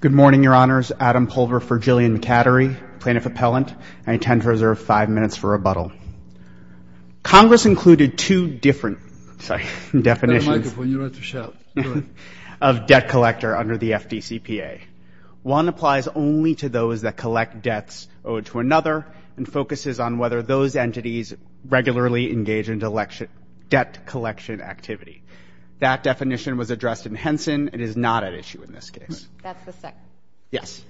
Good morning, Your Honors. Adam Pulver for Jillian McAdory, Plaintiff Appellant. I intend to reserve five minutes for rebuttal. Congress included two different definitions of debt collector under the FDCPA. One applies only to those that collect debts owed to another and focuses on whether those entities regularly engage in debt collection activity. That definition was addressed in Henson. It is not at issue in this case. That's the second? Yes.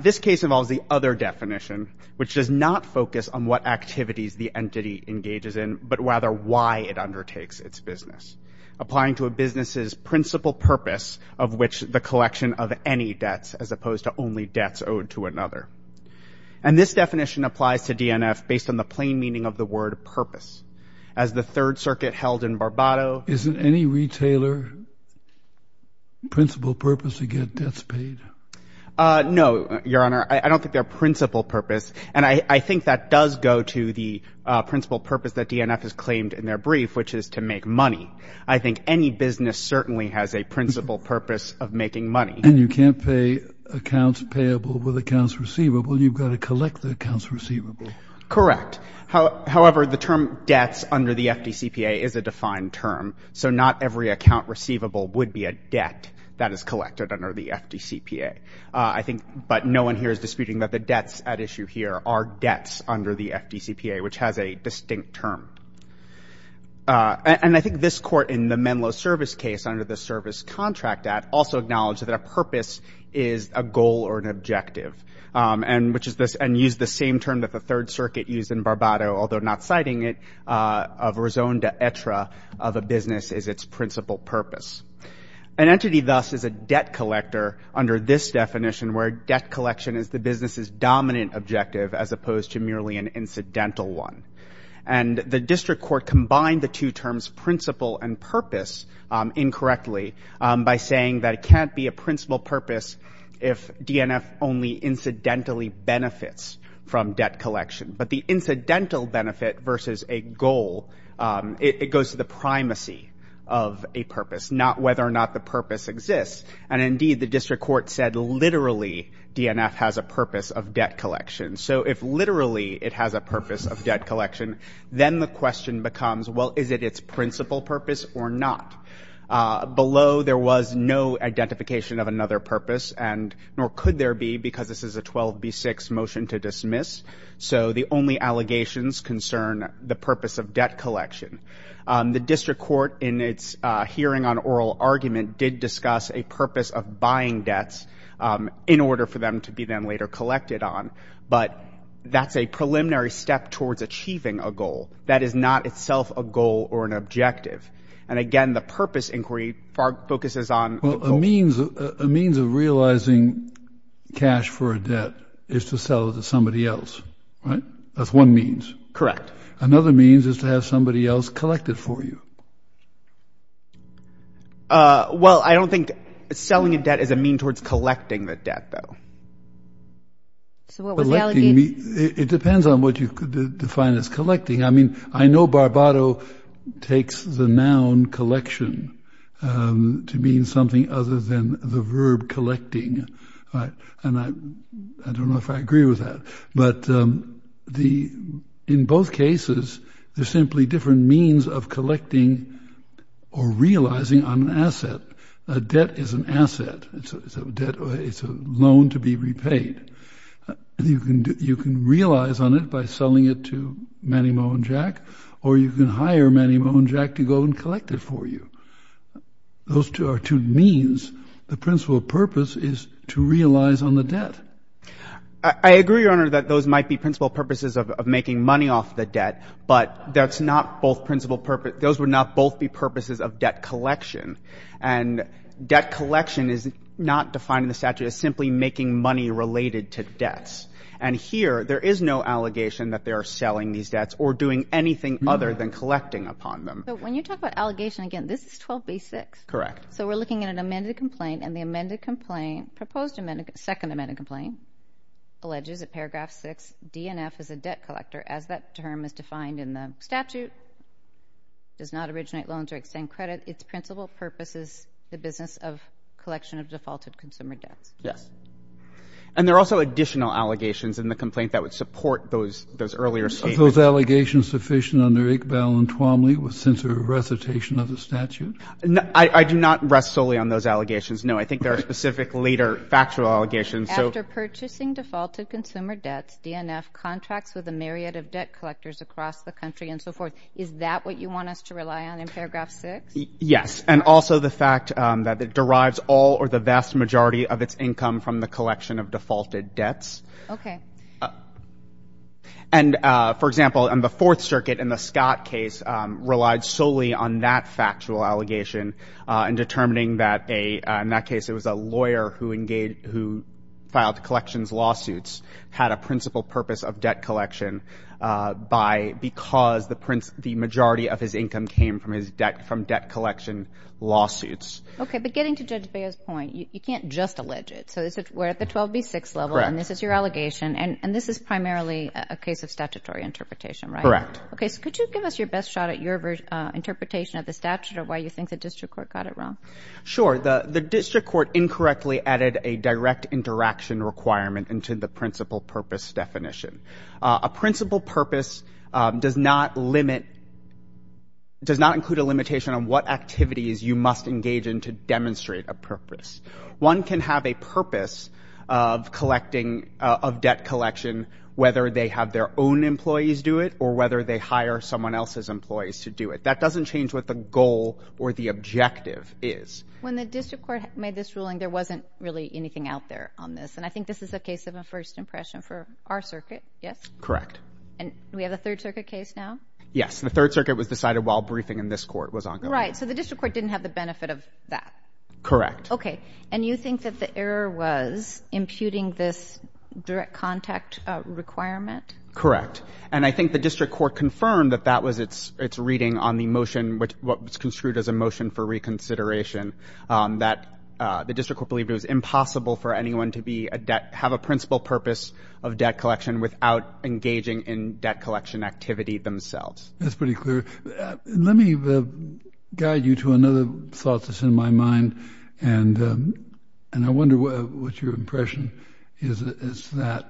This case involves the other definition, which does not focus on what activities the entity engages in, but rather why it undertakes its business, applying to a business's principal purpose of which the collection of any debts, as opposed to only debts owed to another. And this definition applies to DNF based on the plain meaning of the word purpose. As the Third Circuit held in Barbado Is it any retailer's principal purpose to get debts paid? No, Your Honor. I don't think their principal purpose. And I think that does go to the principal purpose that DNF has claimed in their brief, which is to make money. I think any business certainly has a principal purpose of making money. And you can't pay accounts payable with accounts receivable. You've got to collect the accounts receivable. Correct. However, the term debts under the FDCPA is a defined term. So not every account receivable would be a debt that is collected under the FDCPA. I think, but no one here is disputing that the debts at issue here are debts under the FDCPA, which has a distinct term. And I think this Court in the Menlo Service case under the Service Contract Act also acknowledged that a purpose is a goal or an objective. And which is this and use the same term that the Third Circuit used in Barbado, although not citing it, of a raison d'etre of a business is its principal purpose. An entity thus is a debt collector under this definition where debt collection is the business's dominant objective as opposed to merely an incidental one. And the District Court combined the two terms principal and purpose incorrectly by saying that it can't be a principal purpose if DNF only incidentally benefits from debt collection. But the incidental benefit versus a goal, it goes to the primacy of a purpose, not whether or not the purpose exists. And indeed, the District Court said literally DNF has a purpose of debt collection. So if literally it has a purpose of debt collection, then the question becomes, well, is it its principal purpose or not? Below there was no identification of another purpose and nor could there be because this is a 12B6 motion to dismiss. So the only allegations concern the purpose of debt collection. The District Court in its hearing on oral argument did discuss a purpose of buying debts in order for them to be then later collected on. But that's a preliminary step towards achieving a goal that is not itself a goal or an objective. And again, the purpose inquiry focuses on a means, a means of realizing cash for a debt is to sell it to somebody else, right? That's one means. Correct. Another means is to have somebody else collected for you. Well, I don't think selling a debt is a mean towards collecting the debt, though. So what was the allegation? It depends on what you could define as collecting. I mean, I know Barbado takes the noun collection to mean something other than the verb collecting. And I don't know if I agree with that. But in both cases, they're simply different means of collecting or realizing an asset. A debt is an asset. It's a loan to be repaid. You can realize on it by selling it to Manny Moe and Jack, or you can hire Manny Moe and Jack to go and collect it for you. Those two are two means. The principal purpose is to realize on the debt. I agree, Your Honor, that those might be principal purposes of making money off the debt, but that's not both principal purposes. Those would not both be purposes of debt collection. And debt collection is not defined in the statute as simply making money related to debts. And here, there is no allegation that they are selling these debts or doing anything other than collecting upon them. But when you talk about allegation, again, this is 12b-6. Correct. So we're looking at an amended complaint, and the amended complaint, proposed amended complaint, second amended complaint, alleges at paragraph 6, DNF is a debt collector, as that term is defined in the statute, does not originate loans or extend credit. Its principal purpose is the business of collection of defaulted consumer debts. Yes. And there are also additional allegations in the complaint that would support those earlier statements. Are those allegations sufficient under Iqbal and Twomley with sensitive recitation of the statute? I do not rest solely on those allegations. No, I think there are specific later factual allegations. After purchasing defaulted consumer debts, DNF contracts with a myriad of debt collectors across the country and so forth. Is that what you want us to rely on in paragraph 6? Yes. And also the fact that it derives all or the vast majority of its income from the collection of defaulted debts. Okay. And, for example, in the Fourth Circuit, in the Scott case, relied solely on that factual allegation in determining that a, in that case, it was a lawyer who engaged, who filed collections lawsuits, had a principal purpose of debt collection by, because the principal, the majority of his income came from his debt, from debt collection lawsuits. Okay. But getting to Judge Bego's point, you can't just allege it. So this is, we're at the 12B6 level and this is your allegation and this is primarily a case of statutory interpretation, right? Correct. Okay. So could you give us your best shot at your interpretation of the statute of why you think the district court got it wrong? Sure. The district court incorrectly added a direct interaction requirement into the principal purpose definition. A principal purpose does not limit, does not include a limitation on what activities you must engage in to demonstrate a purpose. One can have a purpose of collecting, of debt collection, whether they have their own employees do it or whether they hire someone else's employees to do it. That doesn't change what the goal or the objective is. When the district court made this ruling, there wasn't really anything out there on this. And I think this is a case of a first impression for our circuit. Yes? Correct. And we have a third circuit case now? Yes. The third circuit was decided while briefing in this court was ongoing. Right. So the district court didn't have the benefit of that. Correct. Okay. And you think that the error was imputing this direct contact requirement? Correct. And I think the district court confirmed that that was its reading on the motion, what was construed as a motion for reconsideration, that the district court believed it was impossible for anyone to have a principal purpose of debt collection without engaging in debt collection activity themselves. That's pretty clear. Let me guide you to another thought that's in my mind. And I wonder what your impression is of that.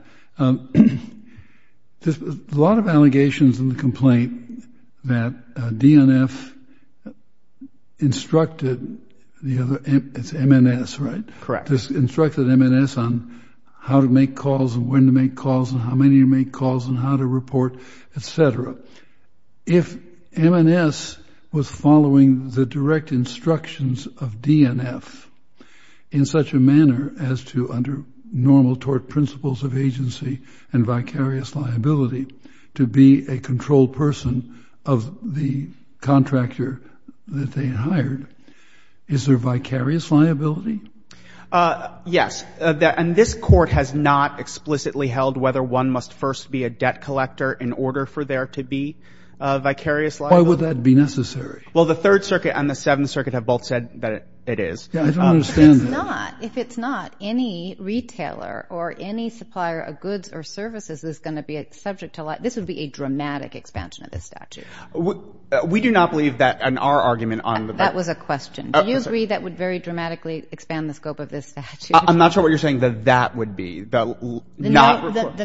There's a lot of allegations in the complaint that DNF instructed, it's MNS, right? Correct. Instructed MNS on how to make calls and when to make calls and how many to make calls and how to report, etc. If MNS was following the direct instructions of DNF in such a manner as to under normal tort principles of agency and vicarious liability to be a controlled person of the contractor that they hired, is there vicarious liability? Yes. And this court has not explicitly held whether one must first be a debt collector in order for there to be a vicarious liability. Why would that be necessary? Well, the Third Circuit and the Seventh Circuit have both said that it is. Yeah. I don't understand that. If it's not, if it's not, any retailer or any supplier of goods or services is going to be subject to liability, this would be a dramatic expansion of the statute. We do not believe that in our argument on the bill. That was a question. Do you agree that would very dramatically expand the scope of this statute? I'm not sure what you're saying that that would be. The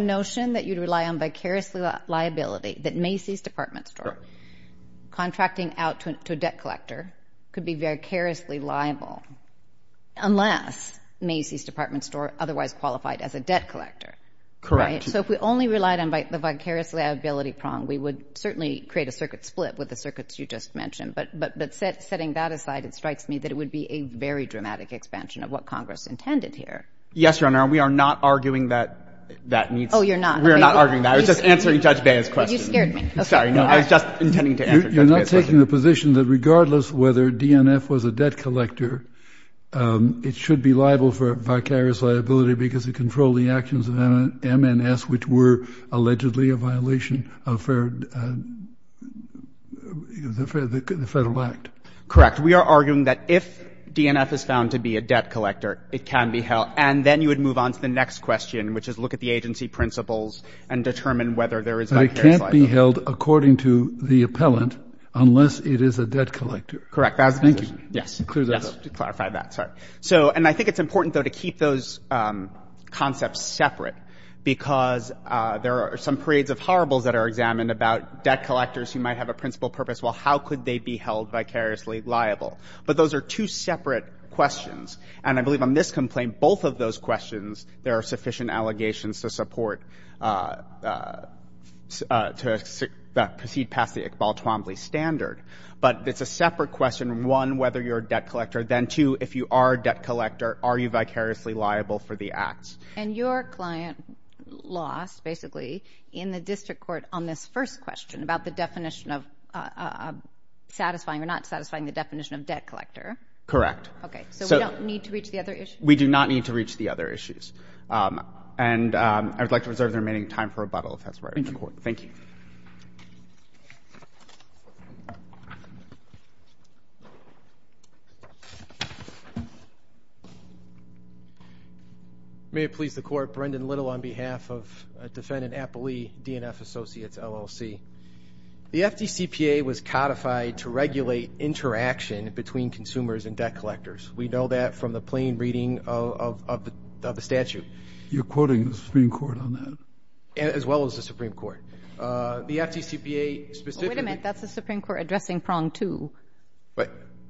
notion that you'd rely on vicarious liability, that Macy's Department Store contracting out to a debt collector could be vicariously liable unless Macy's Department Store otherwise qualified as a debt collector. Correct. Right? So if we only relied on the vicarious liability prong, we would certainly create a circuit split with the circuits you just mentioned. But setting that aside, it strikes me that it would be a very dramatic expansion of what Congress intended here. Yes, Your Honor. And we are not arguing that that needs. Oh, you're not. We are not arguing that. I was just answering Judge Baez's question. You scared me. Sorry. No, I was just intending to answer Judge Baez's question. You're not taking the position that regardless whether DNF was a debt collector, it should be liable for vicarious liability because it controlled the actions of MNS, which were allegedly a violation of the Federal Act? Correct. We are arguing that if DNF is found to be a debt collector, it can be held. And then you would move on to the next question, which is look at the agency principles and determine whether there is vicarious liability. It cannot be held according to the appellant unless it is a debt collector. Correct. Thank you. Yes. To clarify that. Sorry. And I think it's important, though, to keep those concepts separate because there are some parades of horribles that are examined about debt collectors who might have a principal purpose. Well, how could they be held vicariously liable? But those are two separate questions. And I believe on this complaint, both of those questions, there are sufficient allegations to support, to proceed past the Iqbal Twombly standard. But it's a separate question, one, whether you're a debt collector. Then, two, if you are a debt collector, are you vicariously liable for the acts? And your client lost, basically, in the district court on this first question about the definition of satisfying or not satisfying the definition of debt collector. Correct. Okay. So we don't need to reach the other issues? We do not need to reach the other issues. And I would like to reserve the remaining time for rebuttal, if that's all right with the Court. Thank you. May it please the Court. Brendan Little on behalf of Defendant Appley, DNF Associates, LLC. The FDCPA was codified to regulate interaction between consumers and debt collectors. We know that from the plain reading of the statute. You're quoting the Supreme Court on that? As well as the Supreme Court. The FDCPA specifically — Wait a minute. That's the Supreme Court addressing prong two.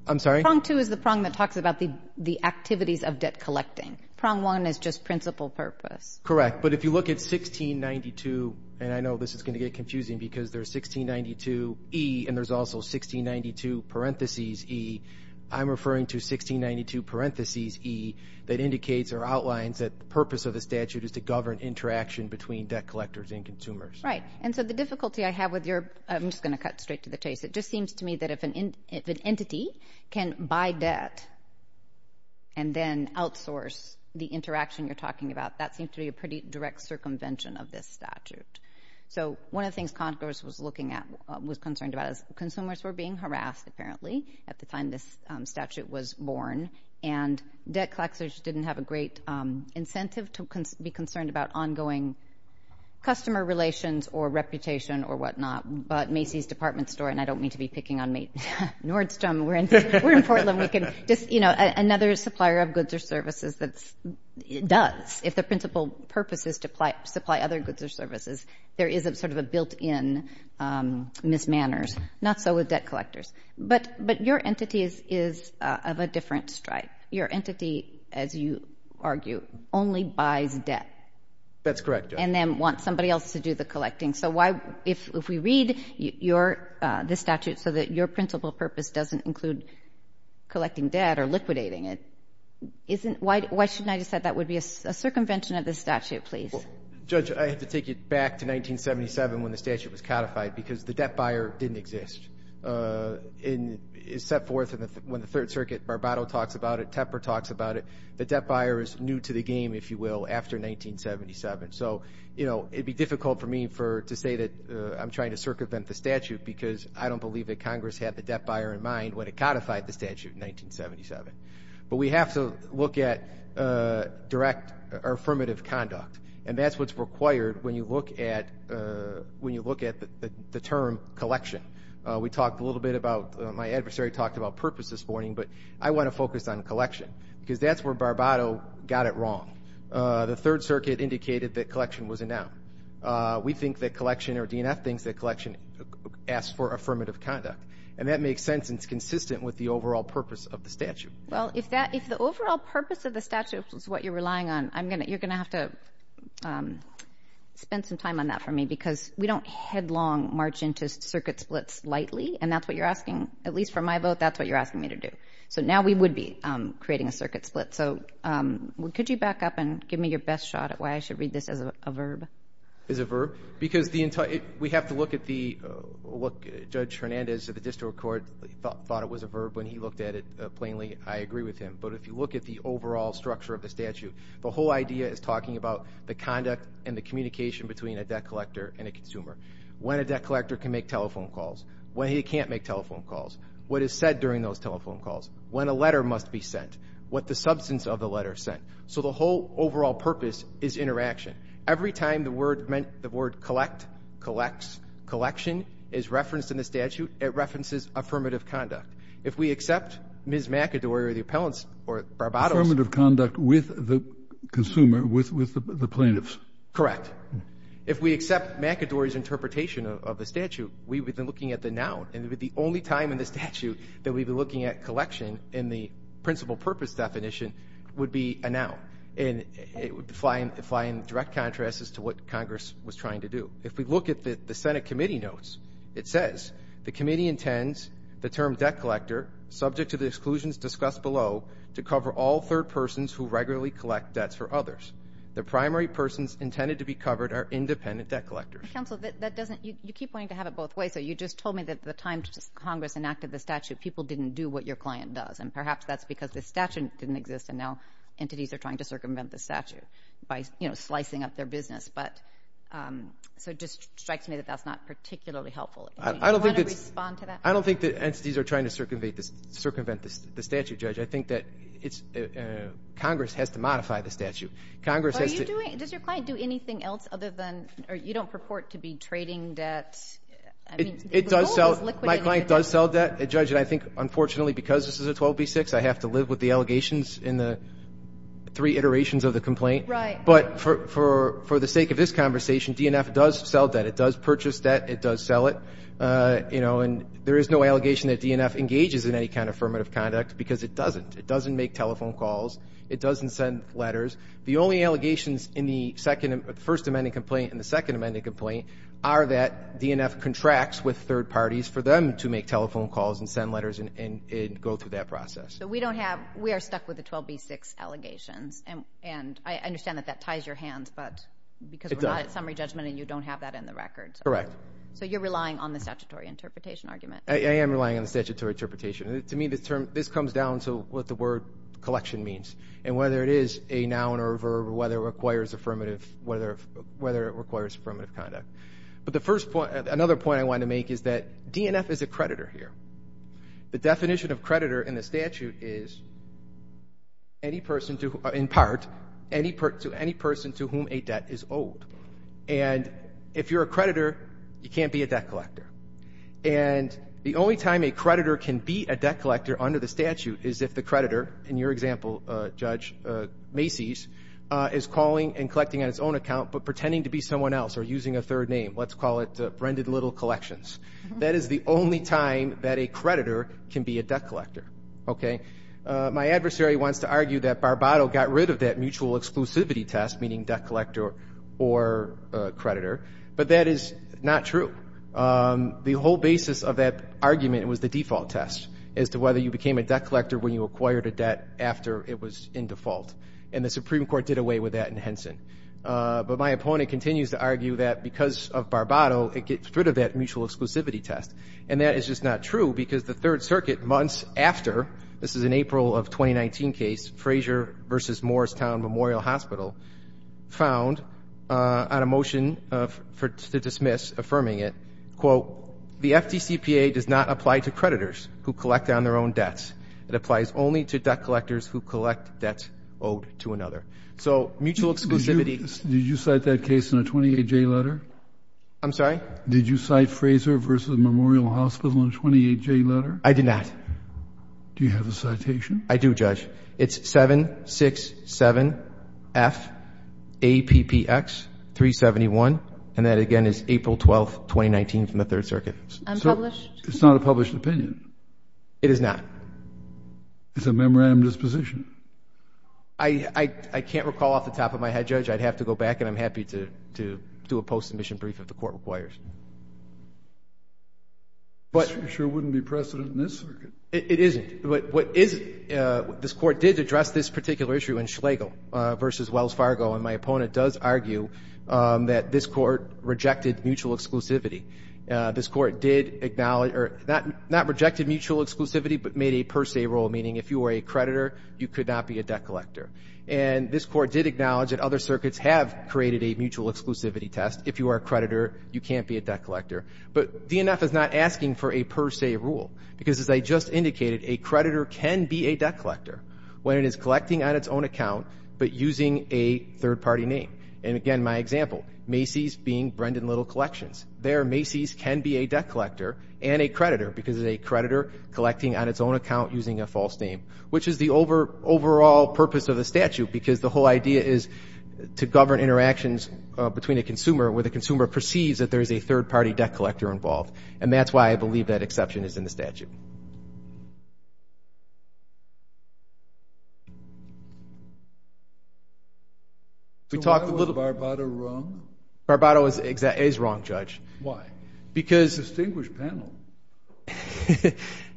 I'm sorry? Prong two is the prong that talks about the activities of debt collecting. Prong one is just principal purpose. Correct. But if you look at 1692, and I know this is going to get confusing because there's 1692E and there's also 1692 parentheses E. I'm referring to 1692 parentheses E that indicates or outlines that the purpose of the statute is to govern interaction between debt collectors and consumers. Right. And so the difficulty I have with your — I'm just going to cut straight to the chase. It just seems to me that if an entity can buy debt and then outsource the interaction you're talking about, that seems to be a pretty direct circumvention of this statute. So one of the things Congress was concerned about is consumers were being harassed, apparently, at the time this statute was born, and debt collectors didn't have a great incentive to be concerned about ongoing customer relations or reputation or whatnot. But Macy's Department Store — and I don't mean to be picking on Nordstrom. We're in Portland. We can just — you know, another supplier of goods or services that does, if the principal purpose is to supply other goods or services, there is sort of a built-in mismanners. Not so with debt collectors. But your entity is of a different stripe. Your entity, as you argue, only buys debt. That's correct, yes. And then wants somebody else to do the collecting. So why — if we read this statute so that your principal purpose doesn't include collecting debt or liquidating it, why shouldn't I just say that would be a circumvention of this statute, please? Judge, I have to take you back to 1977 when the statute was codified because the debt buyer didn't exist. It's set forth when the Third Circuit, Barbato talks about it, Tepper talks about it, the debt buyer is new to the game, if you will, after 1977. So, you know, it would be difficult for me to say that I'm trying to circumvent the statute because I don't believe that Congress had the debt buyer in mind when it codified the statute in 1977. But we have to look at direct or affirmative conduct, and that's what's required when you look at the term collection. We talked a little bit about — my adversary talked about purpose this morning, but I want to focus on collection because that's where Barbato got it wrong. The Third Circuit indicated that collection was a noun. We think that collection or DNF thinks that collection asks for affirmative conduct, and that makes sense and is consistent with the overall purpose of the statute. Well, if the overall purpose of the statute is what you're relying on, you're going to have to spend some time on that for me because we don't headlong march into circuit splits lightly, and that's what you're asking, at least from my vote, that's what you're asking me to do. So now we would be creating a circuit split. So could you back up and give me your best shot at why I should read this as a verb? As a verb? Because we have to look at the — look, Judge Hernandez of the District Court thought it was a verb when he looked at it plainly. I agree with him. But if you look at the overall structure of the statute, the whole idea is talking about the conduct and the communication between a debt collector and a consumer, when a debt collector can make telephone calls, when he can't make telephone calls, what is said during those telephone calls, when a letter must be sent, what the substance of the letter said. So the whole overall purpose is interaction. Every time the word collect, collects, collection is referenced in the statute, it references affirmative conduct. If we accept Ms. McAdory or the appellants or Barbados — Affirmative conduct with the consumer, with the plaintiffs. Correct. If we accept McAdory's interpretation of the statute, we would be looking at the noun, and the only time in the statute that we would be looking at collection in the principal purpose definition would be a noun. And it would fly in direct contrast to what Congress was trying to do. If we look at the Senate committee notes, it says, the committee intends the term debt collector, subject to the exclusions discussed below, to cover all third persons who regularly collect debts for others. The primary persons intended to be covered are independent debt collectors. Counsel, that doesn't — you keep wanting to have it both ways. So you just told me that at the time Congress enacted the statute, people didn't do what your client does, and perhaps that's because the statute didn't exist, and now entities are trying to circumvent the statute by slicing up their business. So it just strikes me that that's not particularly helpful. Do you want to respond to that? I don't think that entities are trying to circumvent the statute, Judge. I think that Congress has to modify the statute. Congress has to — Does your client do anything else other than — or you don't purport to be trading debt? It does sell — my client does sell debt, Judge, and I think, unfortunately, because this is a 12b-6, I have to live with the allegations in the three iterations of the complaint. Right. But for the sake of this conversation, DNF does sell debt. It does purchase debt. It does sell it. You know, and there is no allegation that DNF engages in any kind of affirmative conduct because it doesn't. It doesn't make telephone calls. It doesn't send letters. The only allegations in the second — the First Amendment complaint and the Second Amendment complaint are that DNF contracts with third parties for them to make telephone calls and send letters and go through that process. So we don't have — we are stuck with the 12b-6 allegations, and I understand that that ties your hands, but — It does. — because we're not at summary judgment and you don't have that in the record. Correct. So you're relying on the statutory interpretation argument. I am relying on the statutory interpretation. To me, this comes down to what the word collection means and whether it is a noun or a verb or whether it requires affirmative — whether it requires affirmative conduct. But the first point — another point I want to make is that DNF is a creditor here. The definition of creditor in the statute is any person to — in part, any person to whom a debt is owed. And if you're a creditor, you can't be a debt collector. And the only time a creditor can be a debt collector under the statute is if the creditor, in your example, Judge Macy's, is calling and collecting on his own under your name. Let's call it Brendan Little Collections. That is the only time that a creditor can be a debt collector. Okay? My adversary wants to argue that Barbado got rid of that mutual exclusivity test, meaning debt collector or creditor, but that is not true. The whole basis of that argument was the default test as to whether you became a debt collector when you acquired a debt after it was in default. And the Supreme Court did away with that in Henson. But my opponent continues to argue that because of Barbado, it gets rid of that mutual exclusivity test. And that is just not true because the Third Circuit, months after — this is an April of 2019 case, Frazier v. Morristown Memorial Hospital, found on a motion to dismiss, affirming it, quote, The FDCPA does not apply to creditors who collect on their own debts. It applies only to debt collectors who collect debts owed to another. So mutual exclusivity — Did you cite that case in a 28J letter? I'm sorry? Did you cite Frazier v. Memorial Hospital in a 28J letter? I did not. Do you have a citation? I do, Judge. It's 767FAPPX371. And that, again, is April 12th, 2019 from the Third Circuit. It's not a published opinion. It is not. It's a memorandum disposition. I can't recall off the top of my head, Judge. I'd have to go back, and I'm happy to do a post-submission brief if the Court requires. It sure wouldn't be precedent in this circuit. It isn't. What is — this Court did address this particular issue in Schlegel v. Wells Fargo, and my opponent does argue that this Court rejected mutual exclusivity. This Court did acknowledge — or not rejected mutual exclusivity but made a creditor. You could not be a debt collector. And this Court did acknowledge that other circuits have created a mutual exclusivity test. If you are a creditor, you can't be a debt collector. But DNF is not asking for a per se rule because, as I just indicated, a creditor can be a debt collector when it is collecting on its own account but using a third-party name. And, again, my example, Macy's being Brendan Little Collections. There, Macy's can be a debt collector and a creditor because it is a third-party name, which is the overall purpose of the statute because the whole idea is to govern interactions between a consumer where the consumer perceives that there is a third-party debt collector involved. And that's why I believe that exception is in the statute. So why was Barbato wrong? Barbato is wrong, Judge. Why? Because — A distinguished panel.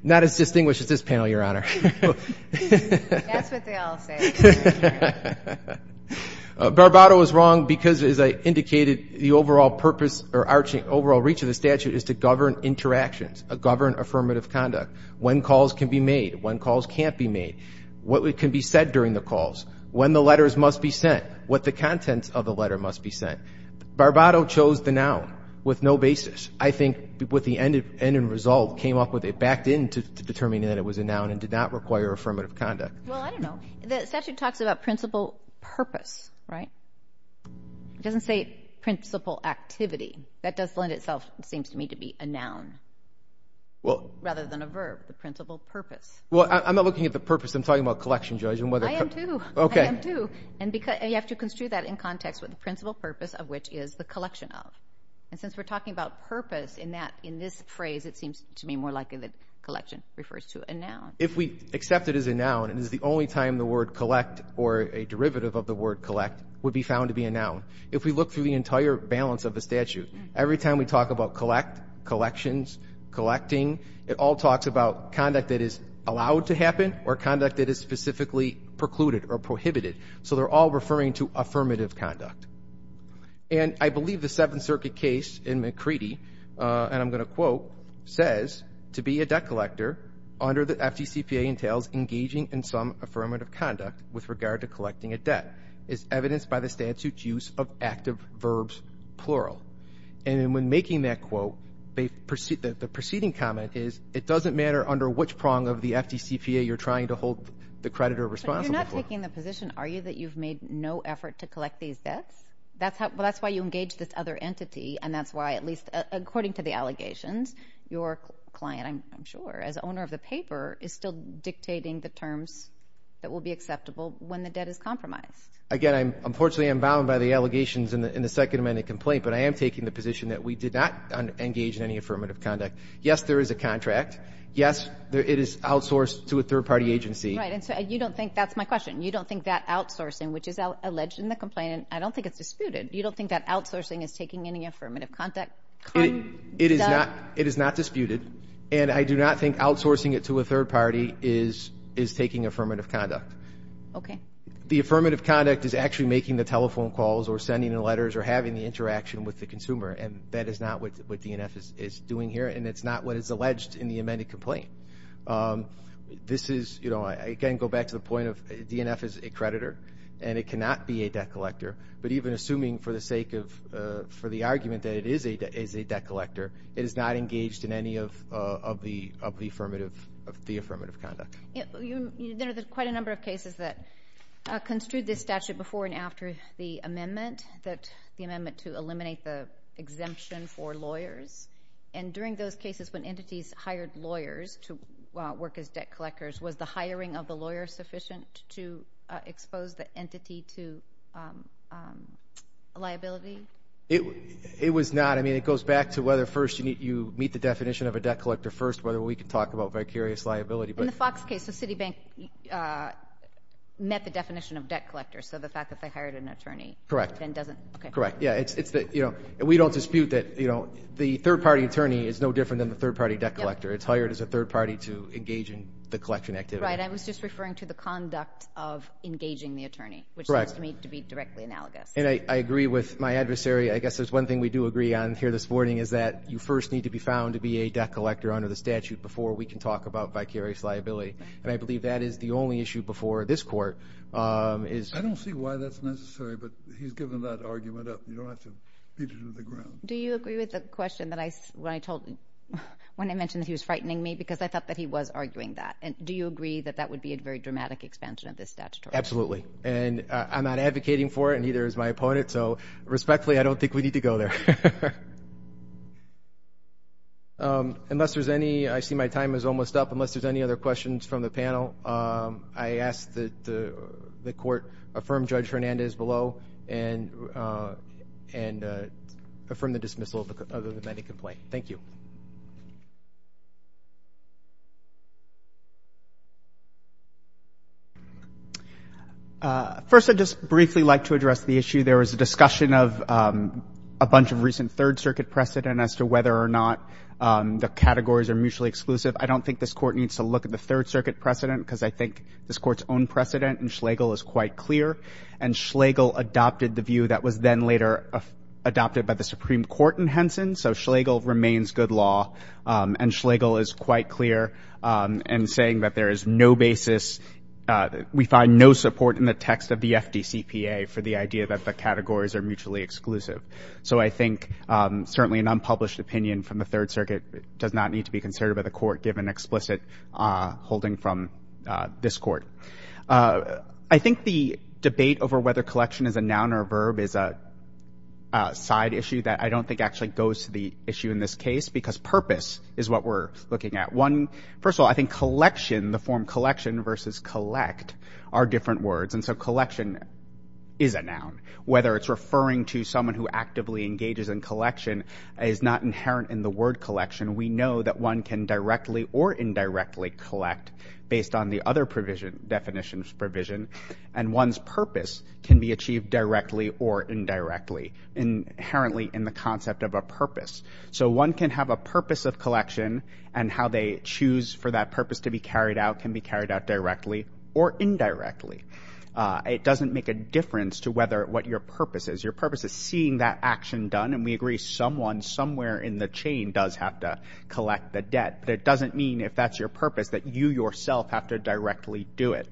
Not as distinguished as this panel, Your Honor. That's what they all say. Barbato is wrong because, as I indicated, the overall purpose or overall reach of the statute is to govern interactions, govern affirmative conduct, when calls can be made, when calls can't be made, what can be said during the calls, when the letters must be sent, what the contents of the letter must be sent. Barbato chose the noun with no basis. I think with the end in result, came up with it, backed in to determining that it was a noun and did not require affirmative conduct. Well, I don't know. The statute talks about principal purpose, right? It doesn't say principal activity. That does lend itself, it seems to me, to be a noun rather than a verb, the principal purpose. Well, I'm not looking at the purpose. I'm talking about collection, Judge, and whether — I am, too. I am, too. And you have to construe that in context with the principal purpose of which is the collection of. And since we're talking about purpose in this phrase, it seems to me more likely that collection refers to a noun. If we accept it as a noun, it is the only time the word collect or a derivative of the word collect would be found to be a noun. If we look through the entire balance of the statute, every time we talk about collect, collections, collecting, it all talks about conduct that is allowed to happen or conduct that is specifically precluded or prohibited. So they're all referring to affirmative conduct. And I believe the Seventh Circuit case in McCready, and I'm going to quote, says to be a debt collector under the FDCPA entails engaging in some affirmative conduct with regard to collecting a debt. It's evidenced by the statute's use of active verbs, plural. And in making that quote, the preceding comment is it doesn't matter under which prong of the FDCPA you're trying to hold the creditor responsible for. So you're not taking the position, are you, that you've made no effort to That's why you engage this other entity, and that's why at least, according to the allegations, your client, I'm sure, as owner of the paper, is still dictating the terms that will be acceptable when the debt is compromised. Again, unfortunately I'm bound by the allegations in the Second Amendment complaint, but I am taking the position that we did not engage in any affirmative conduct. Yes, there is a contract. Yes, it is outsourced to a third-party agency. Right, and so you don't think, that's my question, you don't think that is disputed? You don't think that outsourcing is taking any affirmative conduct? It is not disputed, and I do not think outsourcing it to a third-party is taking affirmative conduct. Okay. The affirmative conduct is actually making the telephone calls or sending the letters or having the interaction with the consumer, and that is not what DNF is doing here, and it's not what is alleged in the amended complaint. This is, you know, I again go back to the point of DNF is a creditor, and it is, I'm assuming for the sake of, for the argument that it is a debt collector, it is not engaged in any of the affirmative conduct. There are quite a number of cases that construed this statute before and after the amendment, the amendment to eliminate the exemption for lawyers, and during those cases when entities hired lawyers to work as debt collectors, was the liability? It was not. I mean, it goes back to whether first you meet the definition of a debt collector first, whether we can talk about vicarious liability. In the Fox case, the Citibank met the definition of debt collector, so the fact that they hired an attorney. Correct. And doesn't, okay. Correct. Yeah, it's, you know, we don't dispute that, you know, the third-party attorney is no different than the third-party debt collector. It's hired as a third-party to engage in the collection activity. Right. I was just referring to the conduct of engaging the attorney, which seems to me to be directly analogous. And I agree with my adversary. I guess there's one thing we do agree on here this morning is that you first need to be found to be a debt collector under the statute before we can talk about vicarious liability, and I believe that is the only issue before this court is. I don't see why that's necessary, but he's given that argument up. You don't have to beat it to the ground. Do you agree with the question that I, when I told, when I mentioned that he was frightening me because I thought that he was arguing that, and do you agree that that would be a very dramatic expansion of this statutory? Absolutely. And I'm not advocating for it, and neither is my opponent. So respectfully, I don't think we need to go there. Unless there's any, I see my time is almost up, unless there's any other questions from the panel, I ask that the court affirm Judge Hernandez below and affirm the dismissal of the amended complaint. Thank you. First, I'd just briefly like to address the issue. There was a discussion of a bunch of recent Third Circuit precedent as to whether or not the categories are mutually exclusive. I don't think this court needs to look at the Third Circuit precedent because I think this court's own precedent in Schlegel is quite clear, and Schlegel adopted the view that was then later adopted by the Supreme Court in Henson, so Schlegel remains good law, and Schlegel is quite clear in saying that there is no basis, we find no support in the text of the FDCPA for the idea that the categories are mutually exclusive. So I think certainly an unpublished opinion from the Third Circuit does not need to be considered by the court given explicit holding from this court. I think the debate over whether collection is a noun or a verb is a side issue that I don't think actually goes to the issue in this case because purpose is what we're looking at. First of all, I think collection, the form collection versus collect, are different words, and so collection is a noun. Whether it's referring to someone who actively engages in collection is not inherent in the word collection. We know that one can directly or indirectly collect based on the other definition of provision, and one's purpose can be achieved directly or indirectly, inherently in the concept of a purpose. So one can have a purpose of collection, and how they choose for that purpose to be carried out can be carried out directly or indirectly. It doesn't make a difference to what your purpose is. Your purpose is seeing that action done, and we agree someone somewhere in the chain does have to collect the debt, but it doesn't mean if that's your purpose that you yourself have to directly do it.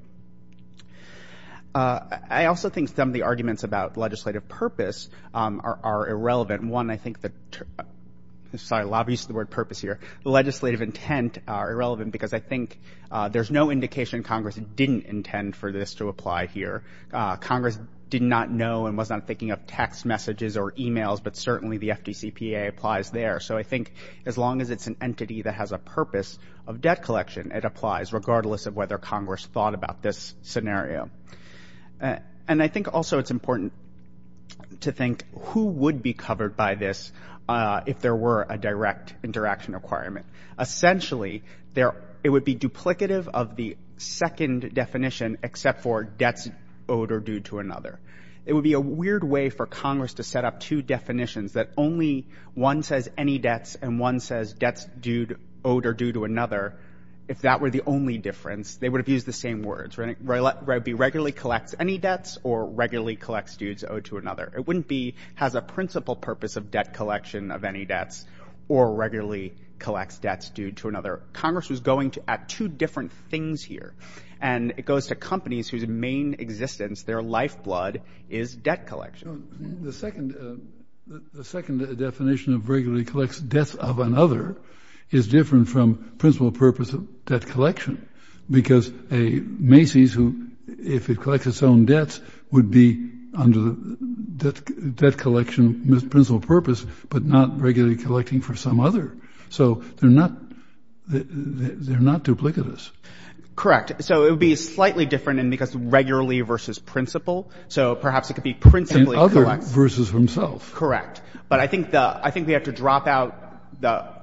I also think some of the arguments about legislative purpose are irrelevant. One, I think that the legislative intent are irrelevant because I think there's no indication Congress didn't intend for this to apply here. Congress did not know and was not thinking of text messages or e-mails, but certainly the FDCPA applies there. So I think as long as it's an entity that has a purpose of debt collection, it applies, regardless of whether Congress thought about this scenario. And I think also it's important to think who would be covered by this if there were a direct interaction requirement. Essentially, it would be duplicative of the second definition, except for debts owed or due to another. It would be a weird way for Congress to set up two definitions, that only one says any debts and one says debts owed or due to another if that were the only difference, they would have used the same words. It would be regularly collects any debts or regularly collects dues owed to another. It wouldn't be has a principal purpose of debt collection of any debts or regularly collects debts due to another. Congress was going at two different things here, and it goes to companies whose main existence, their lifeblood, is debt collection. The second definition of regularly collects debts of another is different from principal purpose of debt collection, because a Macy's who, if it collects its own debts, would be under the debt collection principal purpose, but not regularly collecting for some other. So they're not duplicitous. Correct. So it would be slightly different in because regularly versus principal. So perhaps it could be principally collects. And other versus himself. Correct. But I think we have to drop out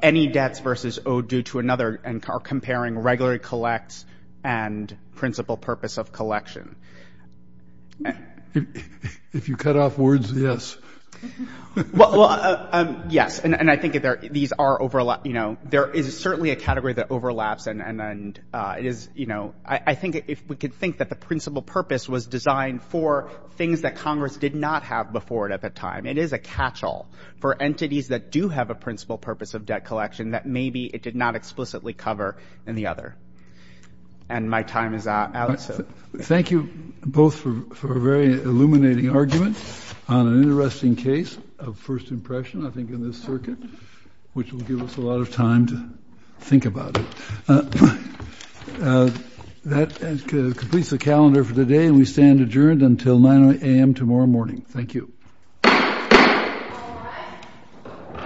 any debts versus owed due to another and are comparing regularly collects and principal purpose of collection. If you cut off words, yes. Well, yes. And I think these are, you know, there is certainly a category that overlaps, and it is, you know, I think if we could think that the principal purpose was designed for things that Congress did not have before it at the time. It is a catchall for entities that do have a principal purpose of debt collection that maybe it did not explicitly cover in the other. And my time is up. Thank you both for a very illuminating argument on an interesting case of first impression, I think, in this circuit, which will give us a lot of time to think about it. That completes the calendar for today, and we stand adjourned until 9 a.m. tomorrow morning. Thank you.